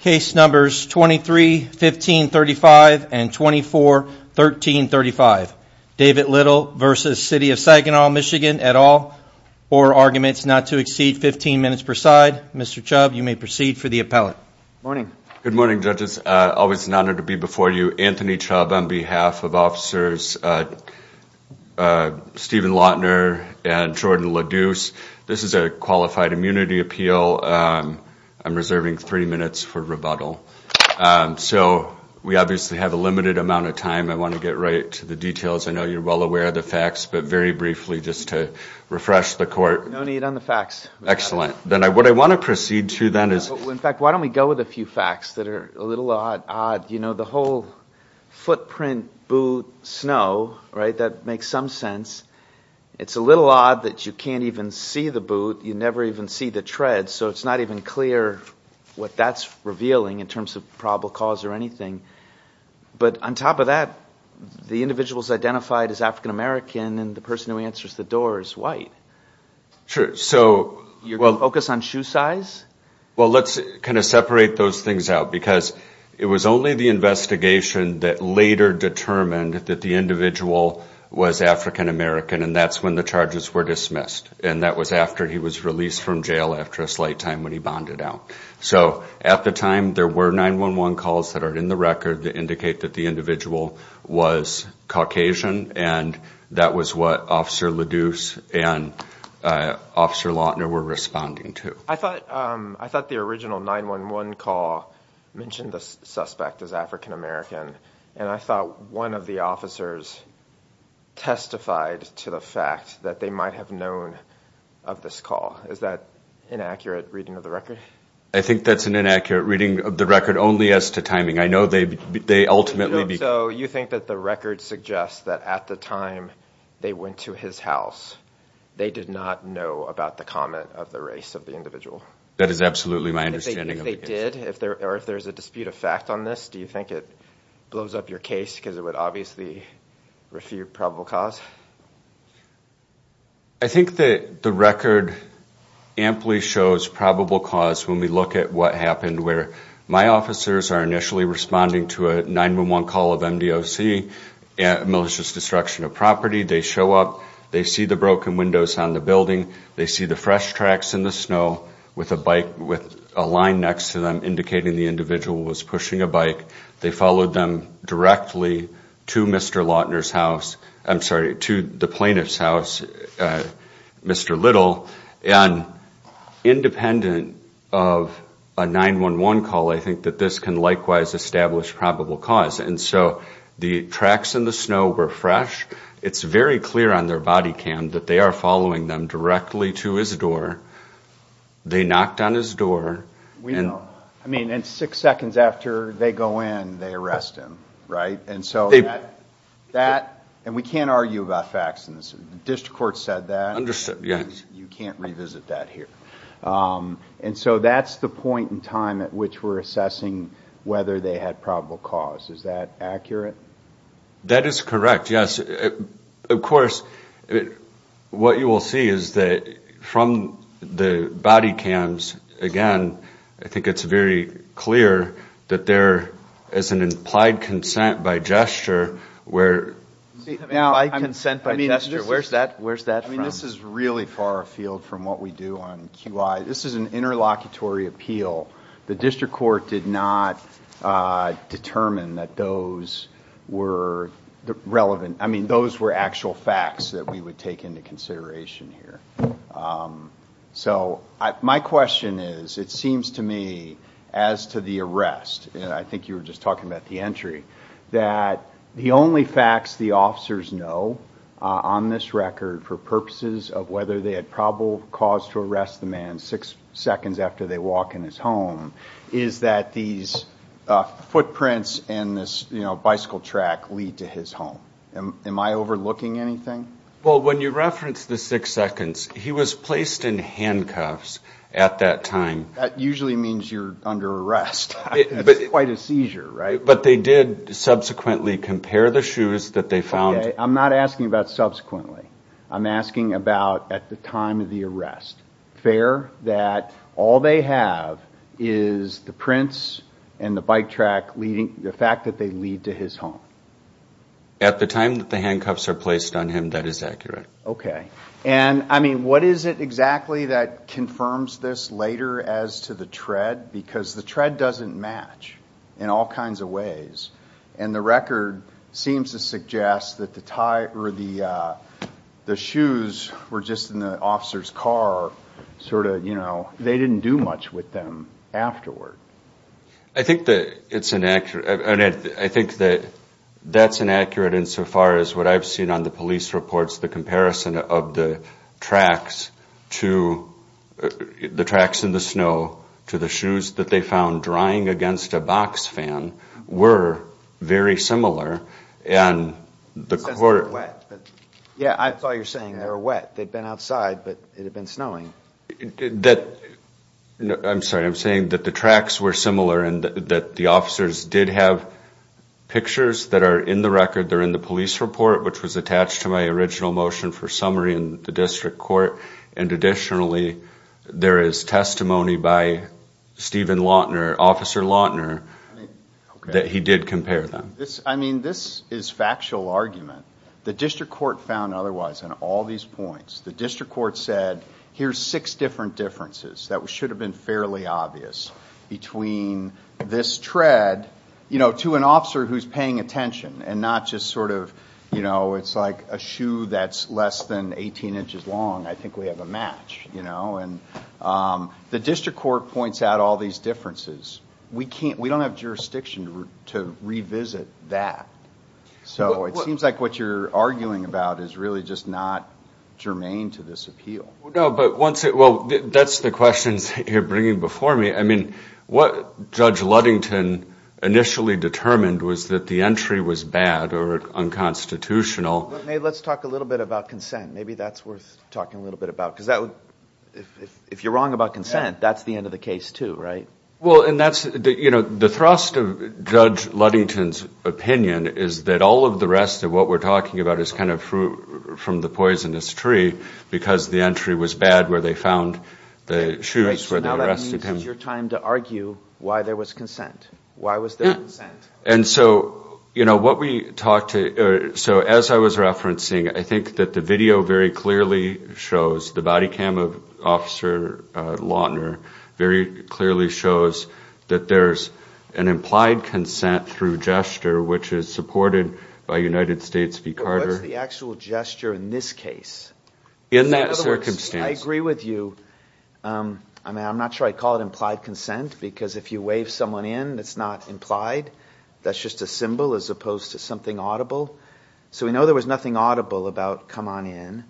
Case numbers 23-1535 and 24-1335. David Little v. City of Saginaw, MI et al. Four arguments not to exceed 15 minutes per side. Mr. Chubb, you may proceed for the appellate. Good morning, judges. Always an honor to be before you. Anthony Chubb on behalf of officers Stephen Lautner and Jordan LaDuce. This is a qualified immunity appeal. I'm reserving three minutes for rebuttal. So we obviously have a limited amount of time. I want to get right to the details. I know you're well aware of the facts, but very briefly just to refresh the court. No need on the facts. Excellent. Then what I want to proceed to then is... In fact, why don't we go with a few facts that are a little odd. You know, the whole footprint, boot, snow, right, that makes some sense. It's a little odd that you can't even see the boot. You never even see the tread. So it's not even clear what that's revealing in terms of probable cause or anything. But on top of that, the individual is identified as African-American and the person who answers the door is white. You're going to focus on shoe size? Well, let's kind of separate those things out because it was only the investigation that later determined that the individual was African-American and that's when the charges were dismissed. And that was after he was released from jail after a slight time when he bonded out. So at the time, there were 911 calls that are in the record that indicate that the individual was Caucasian and that was what Officer LaDuce and Officer Lautner were responding to. I thought the original 911 call mentioned the suspect as African-American and I thought one of the officers testified to the fact that they might have known of this call. Is that an inaccurate reading of the record? I think that's an inaccurate reading of the record only as to timing. I know they ultimately So you think that the record suggests that at the time they went to his house, they did not know about the comment of the race of the individual? That is absolutely my understanding Do you think they did? Or if there's a dispute of fact on this, do you think it blows up your case because it would obviously refute probable cause? I think that the record amply shows probable cause when we look at what happened where my officers are initially responding to a 911 call of MDOC, malicious destruction of property. They show up, they see the broken the individual was pushing a bike. They followed them directly to Mr. Lautner's house. I'm sorry, to the plaintiff's house, Mr. Little. And independent of a 911 call, I think that this can likewise establish probable cause. And so the tracks in the snow were fresh. It's very clear on their body cam that they are following them directly to his door. They knocked on his door. And six seconds after they go in, they arrest him. And we can't argue about facts in this. The district court said that. You can't revisit that here. And so that's the point in time at which we're assessing whether they had probable cause. Is that accurate? That is correct, yes. Of course, what you will see is that from the body cams, again, I think it's very clear that there is an implied consent by gesture where... Where's that from? This is really far afield from what we do on QI. This is an interlocutory appeal. The district court did not determine that those were relevant. I mean, those were actual facts that we would take into consideration here. So my question is, it seems to me as to the arrest, and I think you were just talking about the entry, that the only facts the officers know on this record for purposes of whether they had probable cause to arrest the man six seconds after they walk in his home is that these footprints and this, you know, bicycle track lead to his home. Am I overlooking anything? Well, when you reference the six seconds, he was placed in handcuffs at that time. That usually means you're under arrest. It's quite a seizure, right? But they did subsequently compare the shoes that they found... Okay, I'm not asking about subsequently. I'm asking about at the time that they lead to his home. At the time that the handcuffs are placed on him, that is accurate. Okay. And I mean, what is it exactly that confirms this later as to the tread? Because the tread doesn't match in all kinds of ways. And the record seems to suggest that the shoes were just in the officer's car, sort of, you know, they didn't do much with them afterward. I think that it's inaccurate. And I think that that's inaccurate insofar as what I've seen on the police reports, the comparison of the tracks to the tracks in the snow to the shoes that they found drying against a box fan were very similar. And the court... It says they were wet. Yeah, that's all you're saying. They were wet. They'd been I'm sorry, I'm saying that the tracks were similar and that the officers did have pictures that are in the record. They're in the police report, which was attached to my original motion for summary in the district court. And additionally, there is testimony by Stephen Lautner, Officer Lautner, that he did compare them. I mean, this is factual argument. The district court found otherwise on all these points. The district court said, here's six different differences that should have been fairly obvious between this tread, you know, to an officer who's paying attention and not just sort of, you know, it's like a shoe that's less than 18 inches long. I think we have a match, you know, and the district court points out all these differences. We can't, we don't have jurisdiction to revisit that. So it seems like what you're arguing about is really just not germane to this appeal. No, but once it, well, that's the questions you're bringing before me. I mean, what Judge Ludington initially determined was that the entry was bad or unconstitutional. Let's talk a little bit about consent. Maybe that's worth talking a little bit about, because that would, if you're wrong about consent, that's the end of the case too, right? Well, and that's, you know, the thrust of Judge Ludington's opinion is that all of the rest of what we're talking about is kind of fruit from the poisonous tree, because the entry was bad where they found the shoes where they arrested him. Right, so now that means it's your time to argue why there was consent. Why was there consent? And so, you know, what we talked to, so as I was referencing, I think that the video very clearly shows, the body cam of Officer Lautner very clearly shows that there's an implied consent through gesture, which is supported by United States v. Carter. But what's the actual gesture in this case? In that circumstance. I agree with you. I mean, I'm not sure I'd call it implied consent, because if you wave someone in, it's not implied. That's just a symbol as opposed to something audible. So we know there was nothing audible about come on in,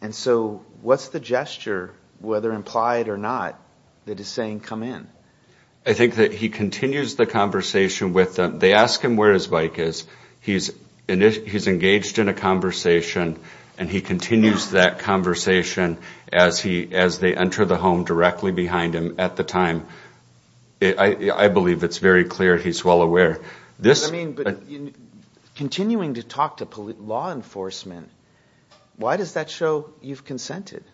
and so what's the gesture, whether implied or not, that is saying come in? I think that he continues the conversation with them. They ask him where his bike is. He's engaged in a conversation, and he continues that conversation as they enter the home directly behind him at the time. I believe it's very clear he's well aware. Continuing to talk to law enforcement, why does that show you've consented?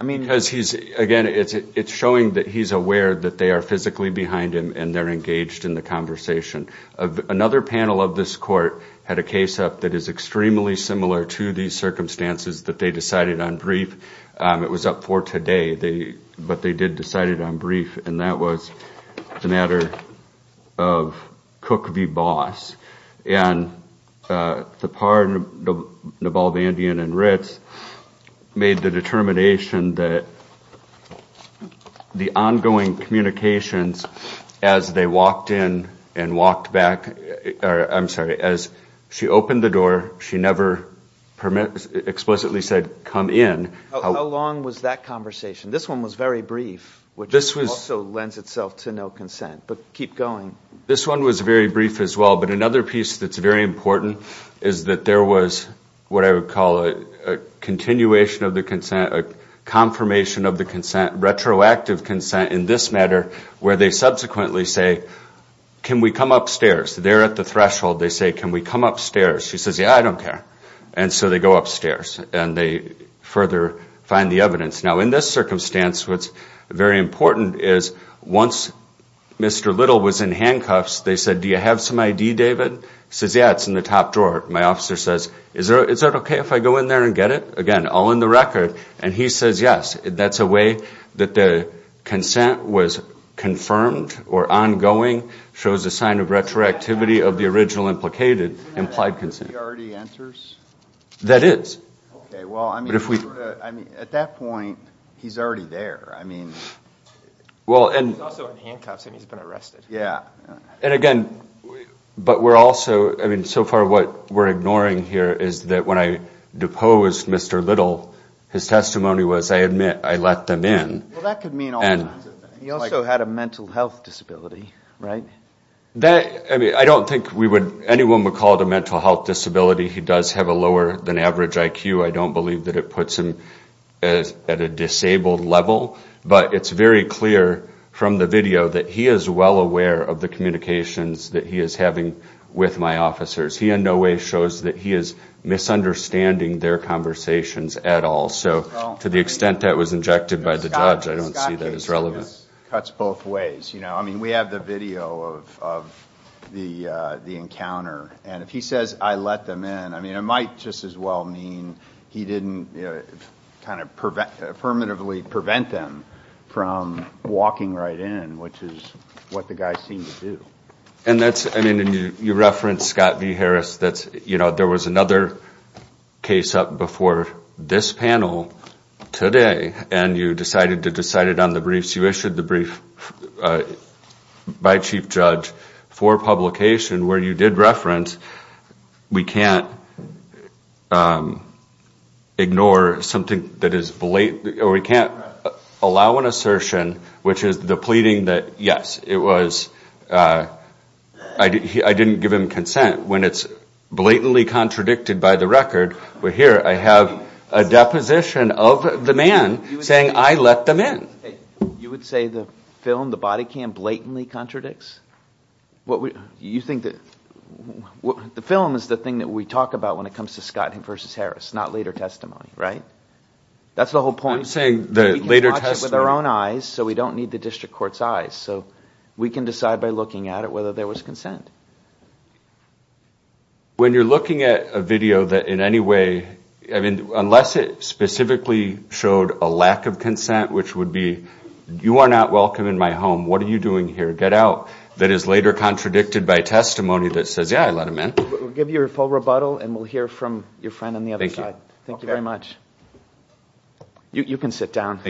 Again, it's showing that he's aware that they are physically behind him, and they're engaged in the conversation. Another panel of this court had a case up that is extremely similar to these circumstances that they decided on brief. It was up for today, but they did decide it on brief, and that was the matter of Cook v. Boss, and Thapar, Navalbandian, and Ritz made the determination that the ongoing communications as they walked in and walked back, I'm sorry, as she opened the door, she never explicitly said come in. How long was that conversation? This one was very brief, which also lends itself to no consent, but keep going. This one was very brief as well, but another piece that's very important is that there was what I would call a continuation of the consent, a confirmation of the consent, retroactive consent in this matter, where they subsequently say, can we come upstairs? They're at the threshold. They say, can we come upstairs? She says, yeah, I don't care. And so they go upstairs, and they further find the evidence. Now, in this circumstance, what's very important is once Mr. Little was in handcuffs, they said, do you have some ID, David? He says, yeah, it's in the top drawer. My officer says, is that okay if I go in there and get it? Again, all in the record, and he says yes. That's a way that the consent was confirmed or ongoing, shows a sign of retroactivity of the original implicated implied consent. Does that mean he already enters? That is. Okay, well, I mean, at that point, he's already there. I mean, he's also in handcuffs, and he's been arrested. Yeah. And again, but we're also, I mean, so far what we're ignoring here is that when I deposed Mr. Little, his testimony was, I admit, I let them in. Well, that could mean all kinds of things. He also had a mental health disability, right? I mean, I don't think anyone would call it a mental health disability. He does have a lower than average IQ. I don't believe that it puts him at a disabled level, but it's very clear from the video that he is well aware of the communications that he is having with my officers. He in no way shows that he is misunderstanding their conversations at all. So to the extent that was injected by the judge, I don't see that as relevant. It cuts both ways. You know, I mean, we have the video of the encounter, and if he says I let them in, I mean, it might just as well mean he didn't kind of affirmatively prevent them from walking right in, which is what the guy seemed to do. And that's, I mean, you referenced Scott V. Harris, that's, you know, there was another case up before this panel today, and you decided to decide it on the briefs. You issued the brief by chief judge for publication where you did reference we can't ignore something that is, or we can't allow an assertion which is the pleading that, yes, it was, I didn't give him consent when it's blatantly contradicted by the record, but here I have a deposition of the man saying I let them in. You would say the film, the body cam blatantly contradicts? You think that the film is the thing that we talk about when it comes to Scott V. Harris, not later testimony, right? That's the whole point. We can watch it with our own eyes, so we don't need the district court's consent. When you're looking at a video that in any way, I mean, unless it specifically showed a lack of consent, which would be you are not welcome in my home, what are you doing here, get out, that is later contradicted by testimony that says, yeah, I let him in. We'll give you a full rebuttal and we'll hear from your friend on the other side. Thank you very much. You can sit down.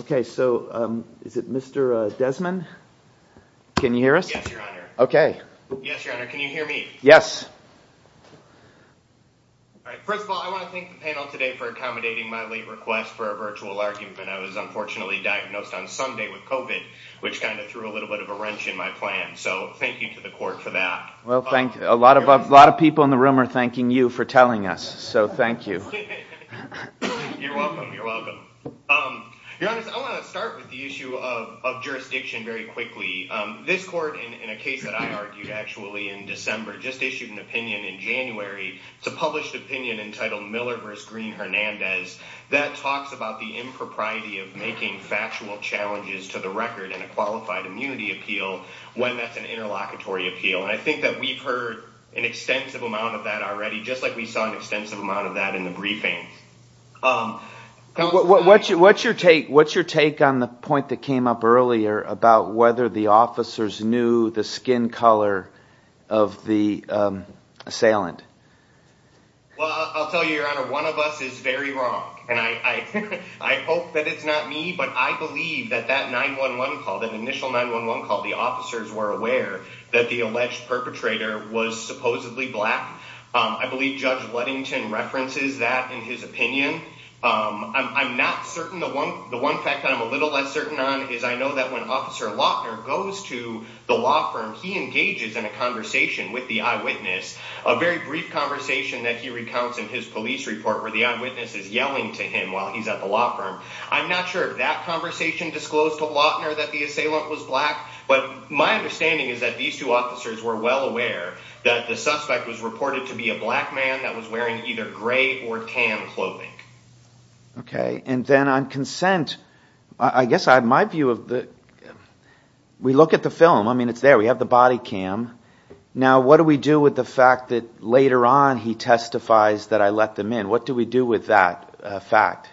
Okay, so is it Mr. Desmond? Can you hear us? Yes, your honor. Can you hear me? First of all, I want to thank the panel today for accommodating my late request for a virtual argument. I was unfortunately diagnosed on Sunday with COVID, which kind of threw a little bit of a wrench in my plan. So thank you to the court for that. A lot of people in the room are thanking you for telling us, so thank you. You're welcome. Your honor, I want to start with the issue of jurisdiction very quickly. This court, in a case that I argued actually in December, just issued an opinion in January. It's a published opinion entitled Miller v. Green-Hernandez that talks about the impropriety of making factual challenges to the record in a qualified immunity appeal when that's an interlocutory appeal. And I think that we've heard an extensive amount of that already, just like we saw an extensive amount of that in the briefing. What's your take on the point that came up earlier about whether the officers knew the skin color of the assailant? Well, I'll tell you, your honor, one of us is very wrong. And I hope that it's not me, but I believe that that 9-1-1 call, that initial 9-1-1 call, the officers were aware that the alleged perpetrator was supposedly black. I believe Judge Ludington references that in his opinion. I'm not certain. The one fact that I'm a little less certain on is I know that when Officer Lautner goes to the law firm, he engages in a conversation with the eyewitness, a very brief conversation that he recounts in his police report where the eyewitness is yelling to him while he's at the law firm. I'm not sure if that conversation disclosed to Lautner that the assailant was black, but my understanding is that these two officers were well aware that the suspect was reported to be a black man that was wearing either gray or tan clothing. Okay. And then on consent, I guess I have my view of the, we look at the film. I mean, it's there. We have the body cam. Now, what do we do with the fact that later on he testifies that I let them in? What do we do with that fact?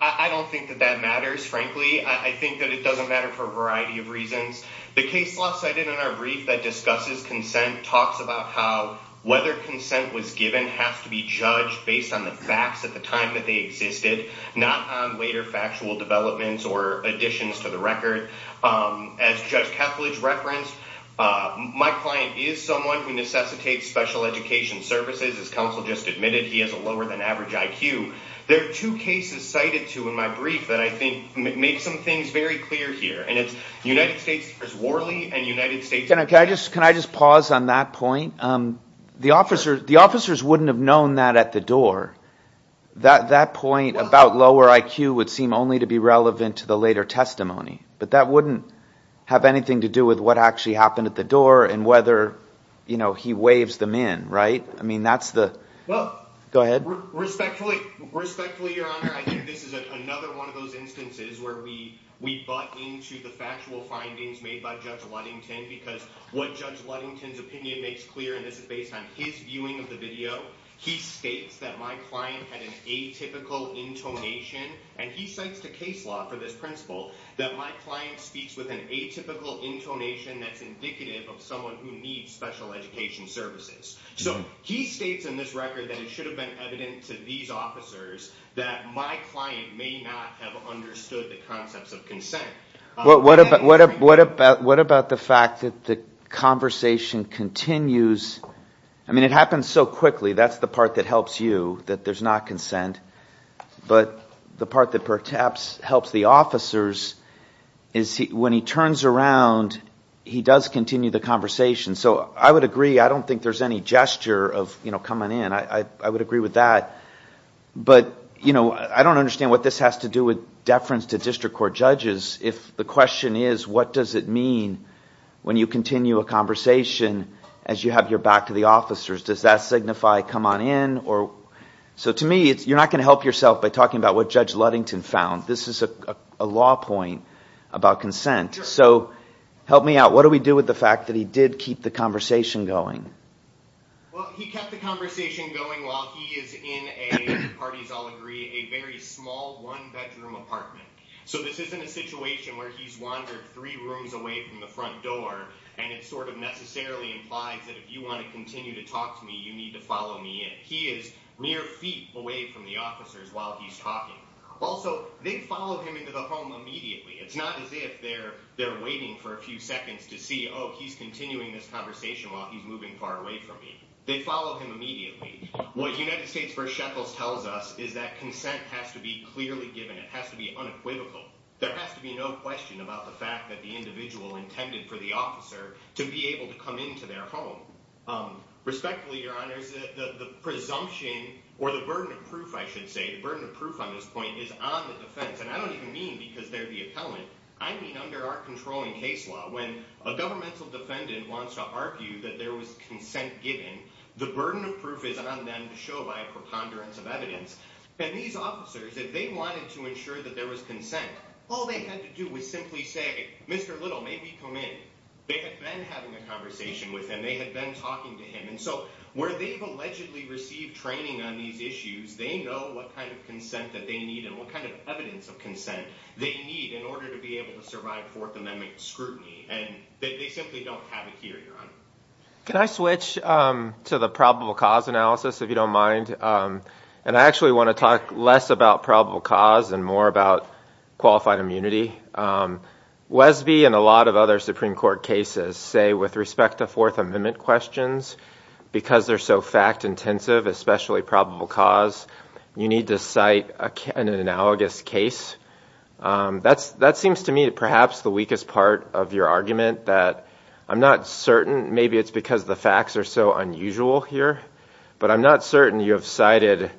I don't think that that matters, frankly. I think that it doesn't matter for a variety of reasons. The case law cited in our brief that discusses consent talks about how whether consent was given has to be judged based on the facts at the time that they existed, not on later factual developments or additions to the record. As Judge Kethledge referenced, my client is someone who necessitates special education services. As counsel just admitted, he has a lower than average IQ. There are two cases cited to in my brief that I think make some things very clear here, and it's United States versus Worley and United States versus Worley. Can I just pause on that point? The officers wouldn't have known that at the door. That point about lower IQ would seem only to be relevant to the later testimony, but that wouldn't have anything to do with what actually happened at the door and whether, you know, he waves them in, right? I mean, that's the... Go ahead. Respectfully, Your Honor, I think this is another one of those instances where we butt into the factual findings made by Judge Ludington because what Judge Ludington's opinion makes clear, and this is based on his viewing of the video, he states that my client had an atypical intonation, and he cites the case law for this principle, that my client speaks with an atypical intonation that's indicative of someone who needs special education services. So he states in this record that it should have been evident to these officers that my client may not have understood the concepts of consent. What about the fact that the conversation continues... I mean, it happens so quickly. That's the part that helps you, that there's not consent. But the part that perhaps helps the officers is when he turns around, he does continue the conversation. So I would agree. I don't think there's any gesture of, you know, coming in. I would agree with that. But, you know, I don't understand what this has to do with deference to district court judges if the question is, what does it mean when you continue a conversation as you have your back to the officers? Does that signify come on in? So to me, you're not going to help yourself by talking about what Judge Ludington found. This is a law point about consent. So help me out. What do we do with the fact that he did keep the conversation going? Well, he kept the conversation going while he is in a, parties all agree, a very small one-bedroom apartment. So this isn't a situation where he's wandered three rooms away from the front door and it sort of necessarily implies that if you want to continue to talk to me, you need to follow me in. He is mere feet away from the officers while he's talking. Also, they follow him into the home immediately. It's not as if they're waiting for a few seconds to see, oh, he's continuing this conversation while he's moving far away from me. They follow him immediately. What United States v. Shekels tells us is that consent has to be clearly given. It has to be unequivocal. There has to be no question about the fact that the individual intended for the officer to be able to come into their home. Respectfully, Your Honors, the presumption or the burden of proof, I should say, the burden of proof on this point is on the defense. And I don't even mean because they're the appellant. I mean under our controlling case law, when a governmental defendant wants to argue that there was consent given, the burden of proof is on them to show by a preponderance of evidence. And these officers, if they wanted to ensure that there was consent, all they had to do was simply say, Mr. Little, may we come in? They had been having a conversation with him. They had been talking to him. And so where they've allegedly received training on these issues, they know what kind of consent that they need and what kind of evidence of consent they need in order to be able to survive Fourth Amendment scrutiny. And they simply don't have it here, Your Honor. Can I switch to the probable cause analysis, if you don't mind? And I actually want to talk less about probable cause and more about qualified immunity. Wesby and a lot of other Supreme Court cases say with respect to Fourth Amendment questions, because they're so fact intensive, especially probable cause, you need to cite an analogous case. That seems to me perhaps the weakest part of your argument, that I'm not certain. Maybe it's because the facts are so unusual here, but I'm not certain you have cited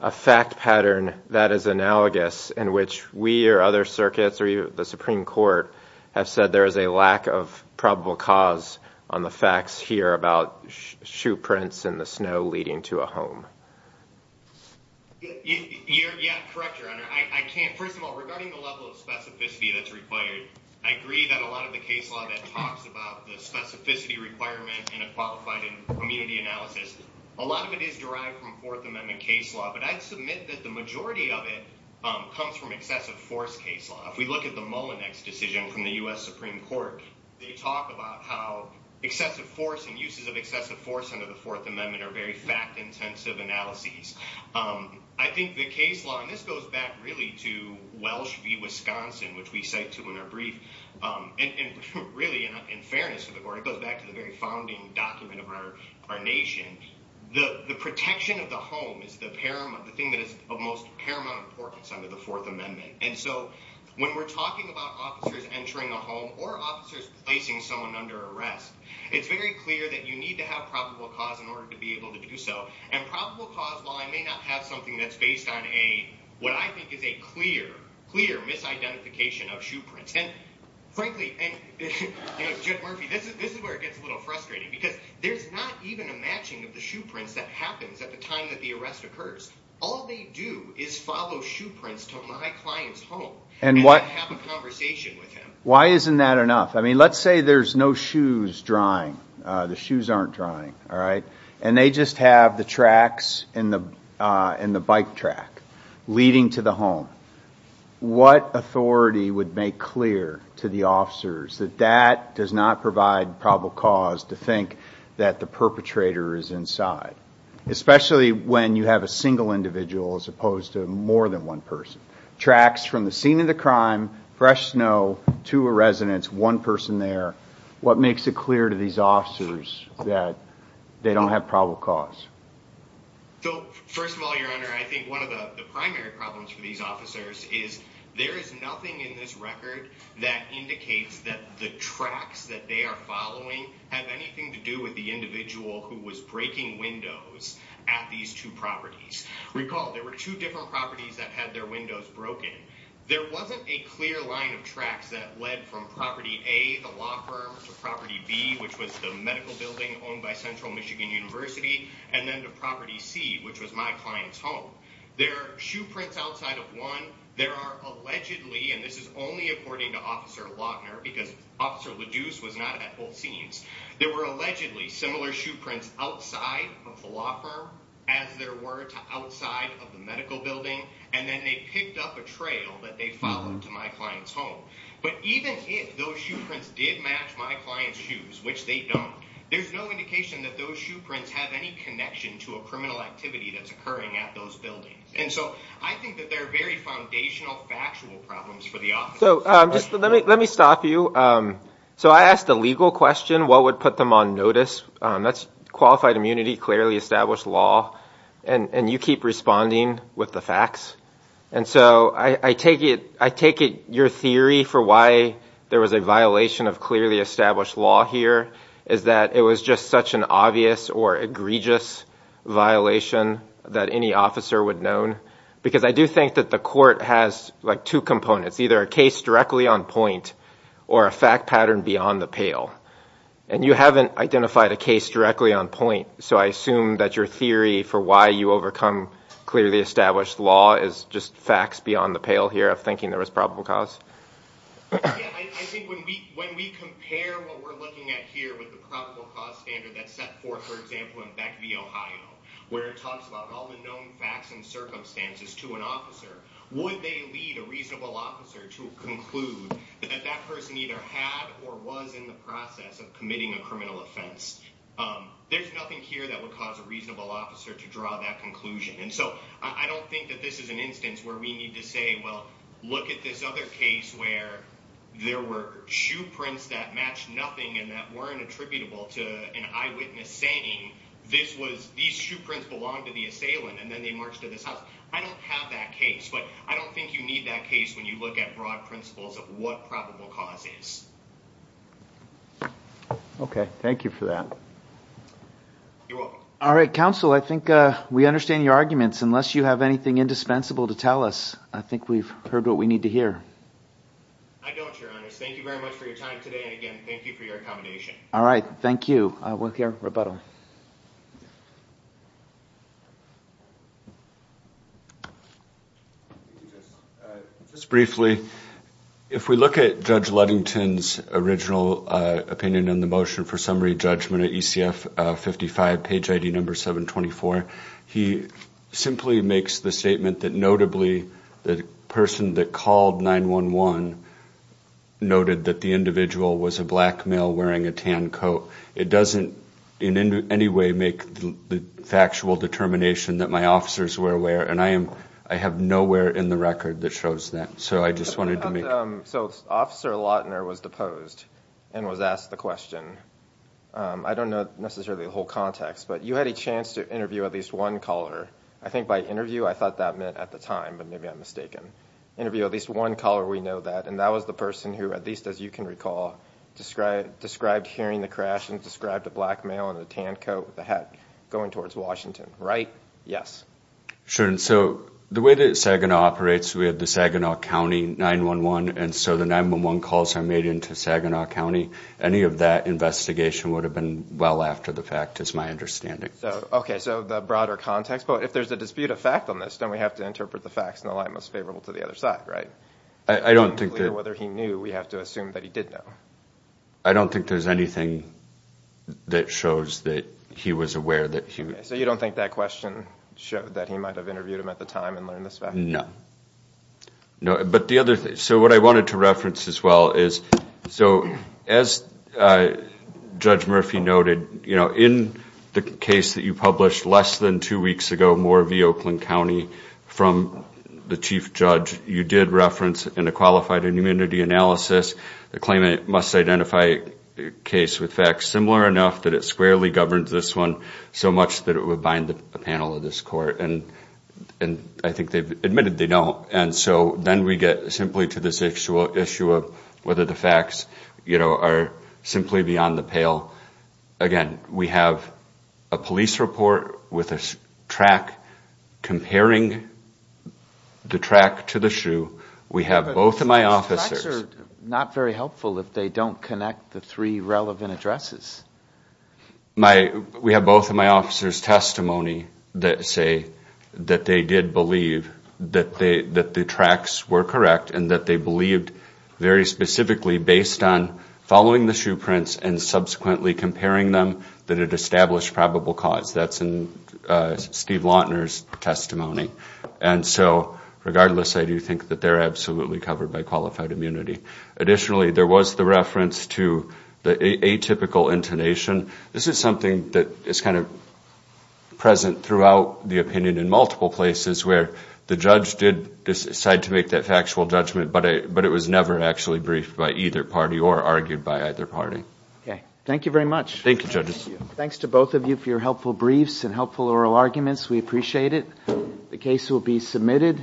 a fact pattern that is analogous in which we or other circuits or the Supreme Court have said there is a lack of probable cause on the facts here about shoe prints in the snow leading to a home. You're correct, Your Honor. First of all, regarding the level of specificity that's required, I agree that a lot of the case law that talks about the specificity requirement in a qualified immunity analysis, a lot of it is derived from Fourth Amendment case law. But I'd submit that the majority of it comes from excessive force case law. If we look at the Mullinex decision from the U.S. Supreme Court, they talk about how excessive force and uses of excessive force under the Fourth Amendment are very fact intensive analyses. I think the case law, and this goes back really to Welsh v. Wisconsin, which we cite to in our brief, and really in fairness to the Court, it goes back to the very founding document of our nation. The protection of the home is the thing that is of most paramount importance under the Fourth Amendment. And so when we're talking about officers entering a home or officers placing someone under arrest, it's very clear that you need to have probable cause in order to be able to do so. And probable cause law may not have something that's based on what I think is a clear, clear misidentification of shoe prints. And frankly, and you know, Judge Murphy, this is where it gets a little frustrating because there's not even a matching of the shoe prints that happens at the time that the arrest occurs. All they do is follow shoe prints to my client's home and have a conversation with him. Why isn't that enough? I mean, let's say there's no shoes drying. The shoes aren't drying. And they just have the tracks and the bike track leading to the home. What authority would make clear to the officers that that does not provide probable cause to think that the perpetrator is inside? Especially when you have a single individual as opposed to more than one person. Tracks from the scene of the crime, fresh snow, two residents, one person there. What makes it clear to these officers that they don't have probable cause? So first of all, Your Honor, I think one of the primary problems for these officers is there is nothing in this record that indicates that the tracks that they are following have anything to do with the individual who was breaking windows at these two properties. Recall, there were two different properties that had their windows broken. There wasn't a clear line of tracks that led from property A, the law firm, to property B, which was the medical building owned by Central Michigan University, and then to property C, which was my client's home. There are shoe prints outside of one. There are allegedly, and this is only according to Officer Lochner, because Officer LaDuce was not at both scenes, there were allegedly similar shoe prints outside of the law firm, as there were to outside of the medical building, and then they picked up a trail that they followed to my client's home. But even if those shoe prints did match my client's shoes, which they don't, there's no indication that those shoe prints have any connection to a criminal activity that's occurring at those buildings. And so I think that there are very foundational factual problems for the officers. So just let me stop you. So I asked a legal question, what would put them on notice? That's qualified immunity, clearly established law, and you keep responding with the facts. And so I take it your theory for why there was a violation of clearly established law here is that it was just such an obvious or egregious violation that any officer would know? Because I do think that the court has, like, two components, either a case directly on point or a fact pattern beyond the pale. And you haven't identified a case directly on point, so I assume that your theory for why you overcome clearly established law is just facts beyond the pale here of thinking there was probable cause? I think when we compare what we're looking at here with the probable cause standard that's set forth, for example, in Beck v. Ohio, where it talks about all the known facts and circumstances to an officer, would they lead a reasonable officer to conclude that that person either had or was in the process of committing a criminal offense? There's nothing here that would cause a reasonable officer to draw that conclusion. And so I don't think that this is an instance where we need to say, well, look at this other case where there were shoe prints that matched nothing and that weren't attributable to an eyewitness saying these shoe prints belonged to the assailant and then they marched to this house. I don't have that case, but I don't think you need that case when you look at broad principles of what probable cause is. Okay. Thank you for that. You're welcome. All right. Counsel, I think we understand your arguments. Unless you have anything indispensable to tell us, I think we've heard what we need to hear. I don't, Your Honors. Thank you very much for your time today. And again, thank you for your accommodation. All right. Thank you. We'll hear rebuttal. Just briefly, if we look at Judge Ludington's original opinion on the motion for summary judgment at ECF 55, page ID number 724, he simply makes the statement that notably the person that called 911 noted that the individual was a black male wearing a tan coat. It doesn't in any way make the factual determination that my officers were aware, and I have nowhere in the record that shows that. So I just wanted to make... So Officer Lautner was deposed and was asked the question. I don't know necessarily the whole context, but you had a chance to interview at least one caller. I think by interview, I thought that meant at the time, but maybe I'm mistaken. Interview at least one caller, we know that, and that was the person who, at least as you can recall, described hearing the crash and described a black male in a tan coat with a hat going towards Washington, right? Yes. Sure, and so the way that Saginaw operates, we have the Saginaw County 911, and so the 911 calls are made into Saginaw County. Any of that investigation would have been well after the fact is my understanding. Okay, so the broader context, but if there's a dispute of fact on this, then we have to interpret the facts in the light most favorable to the other side, right? I don't think that... Whether he knew, we have to assume that he did know. I don't think there's anything that shows that he was aware that he... Okay, so you don't think that question showed that he might have interviewed him at the time and learned this fact? No. But the other thing, so what I wanted to reference as well is, so as Judge Murphy noted, in the case that you published less than two weeks ago, Moore v. Oakland County, from the chief judge, you did reference in a qualified immunity analysis the claimant must identify a case with facts similar enough that it squarely governs this one so much that it would bind a panel of this court. And I think they've admitted they don't. And so then we get simply to this issue of whether the facts are simply beyond the pale. Again, we have a police report with a track comparing the track to the shoe. We have both of my officers... But facts are not very helpful if they don't connect the three relevant addresses. We have both of my officers' testimony that say that they did believe that the tracks were correct and that they believed very specifically based on following the shoe prints and subsequently comparing them that it established probable cause. That's in Steve Lautner's testimony. And so regardless, I do think that they're absolutely covered by qualified immunity. Additionally, there was the reference to the atypical intonation. This is something that is kind of present throughout the opinion in multiple places where the judge did decide to make that factual judgment, but it was never actually briefed by either party or argued by either party. Okay. Thank you very much. Thank you, judges. Thanks to both of you for your helpful briefs and helpful oral arguments. We appreciate it. The case will be submitted.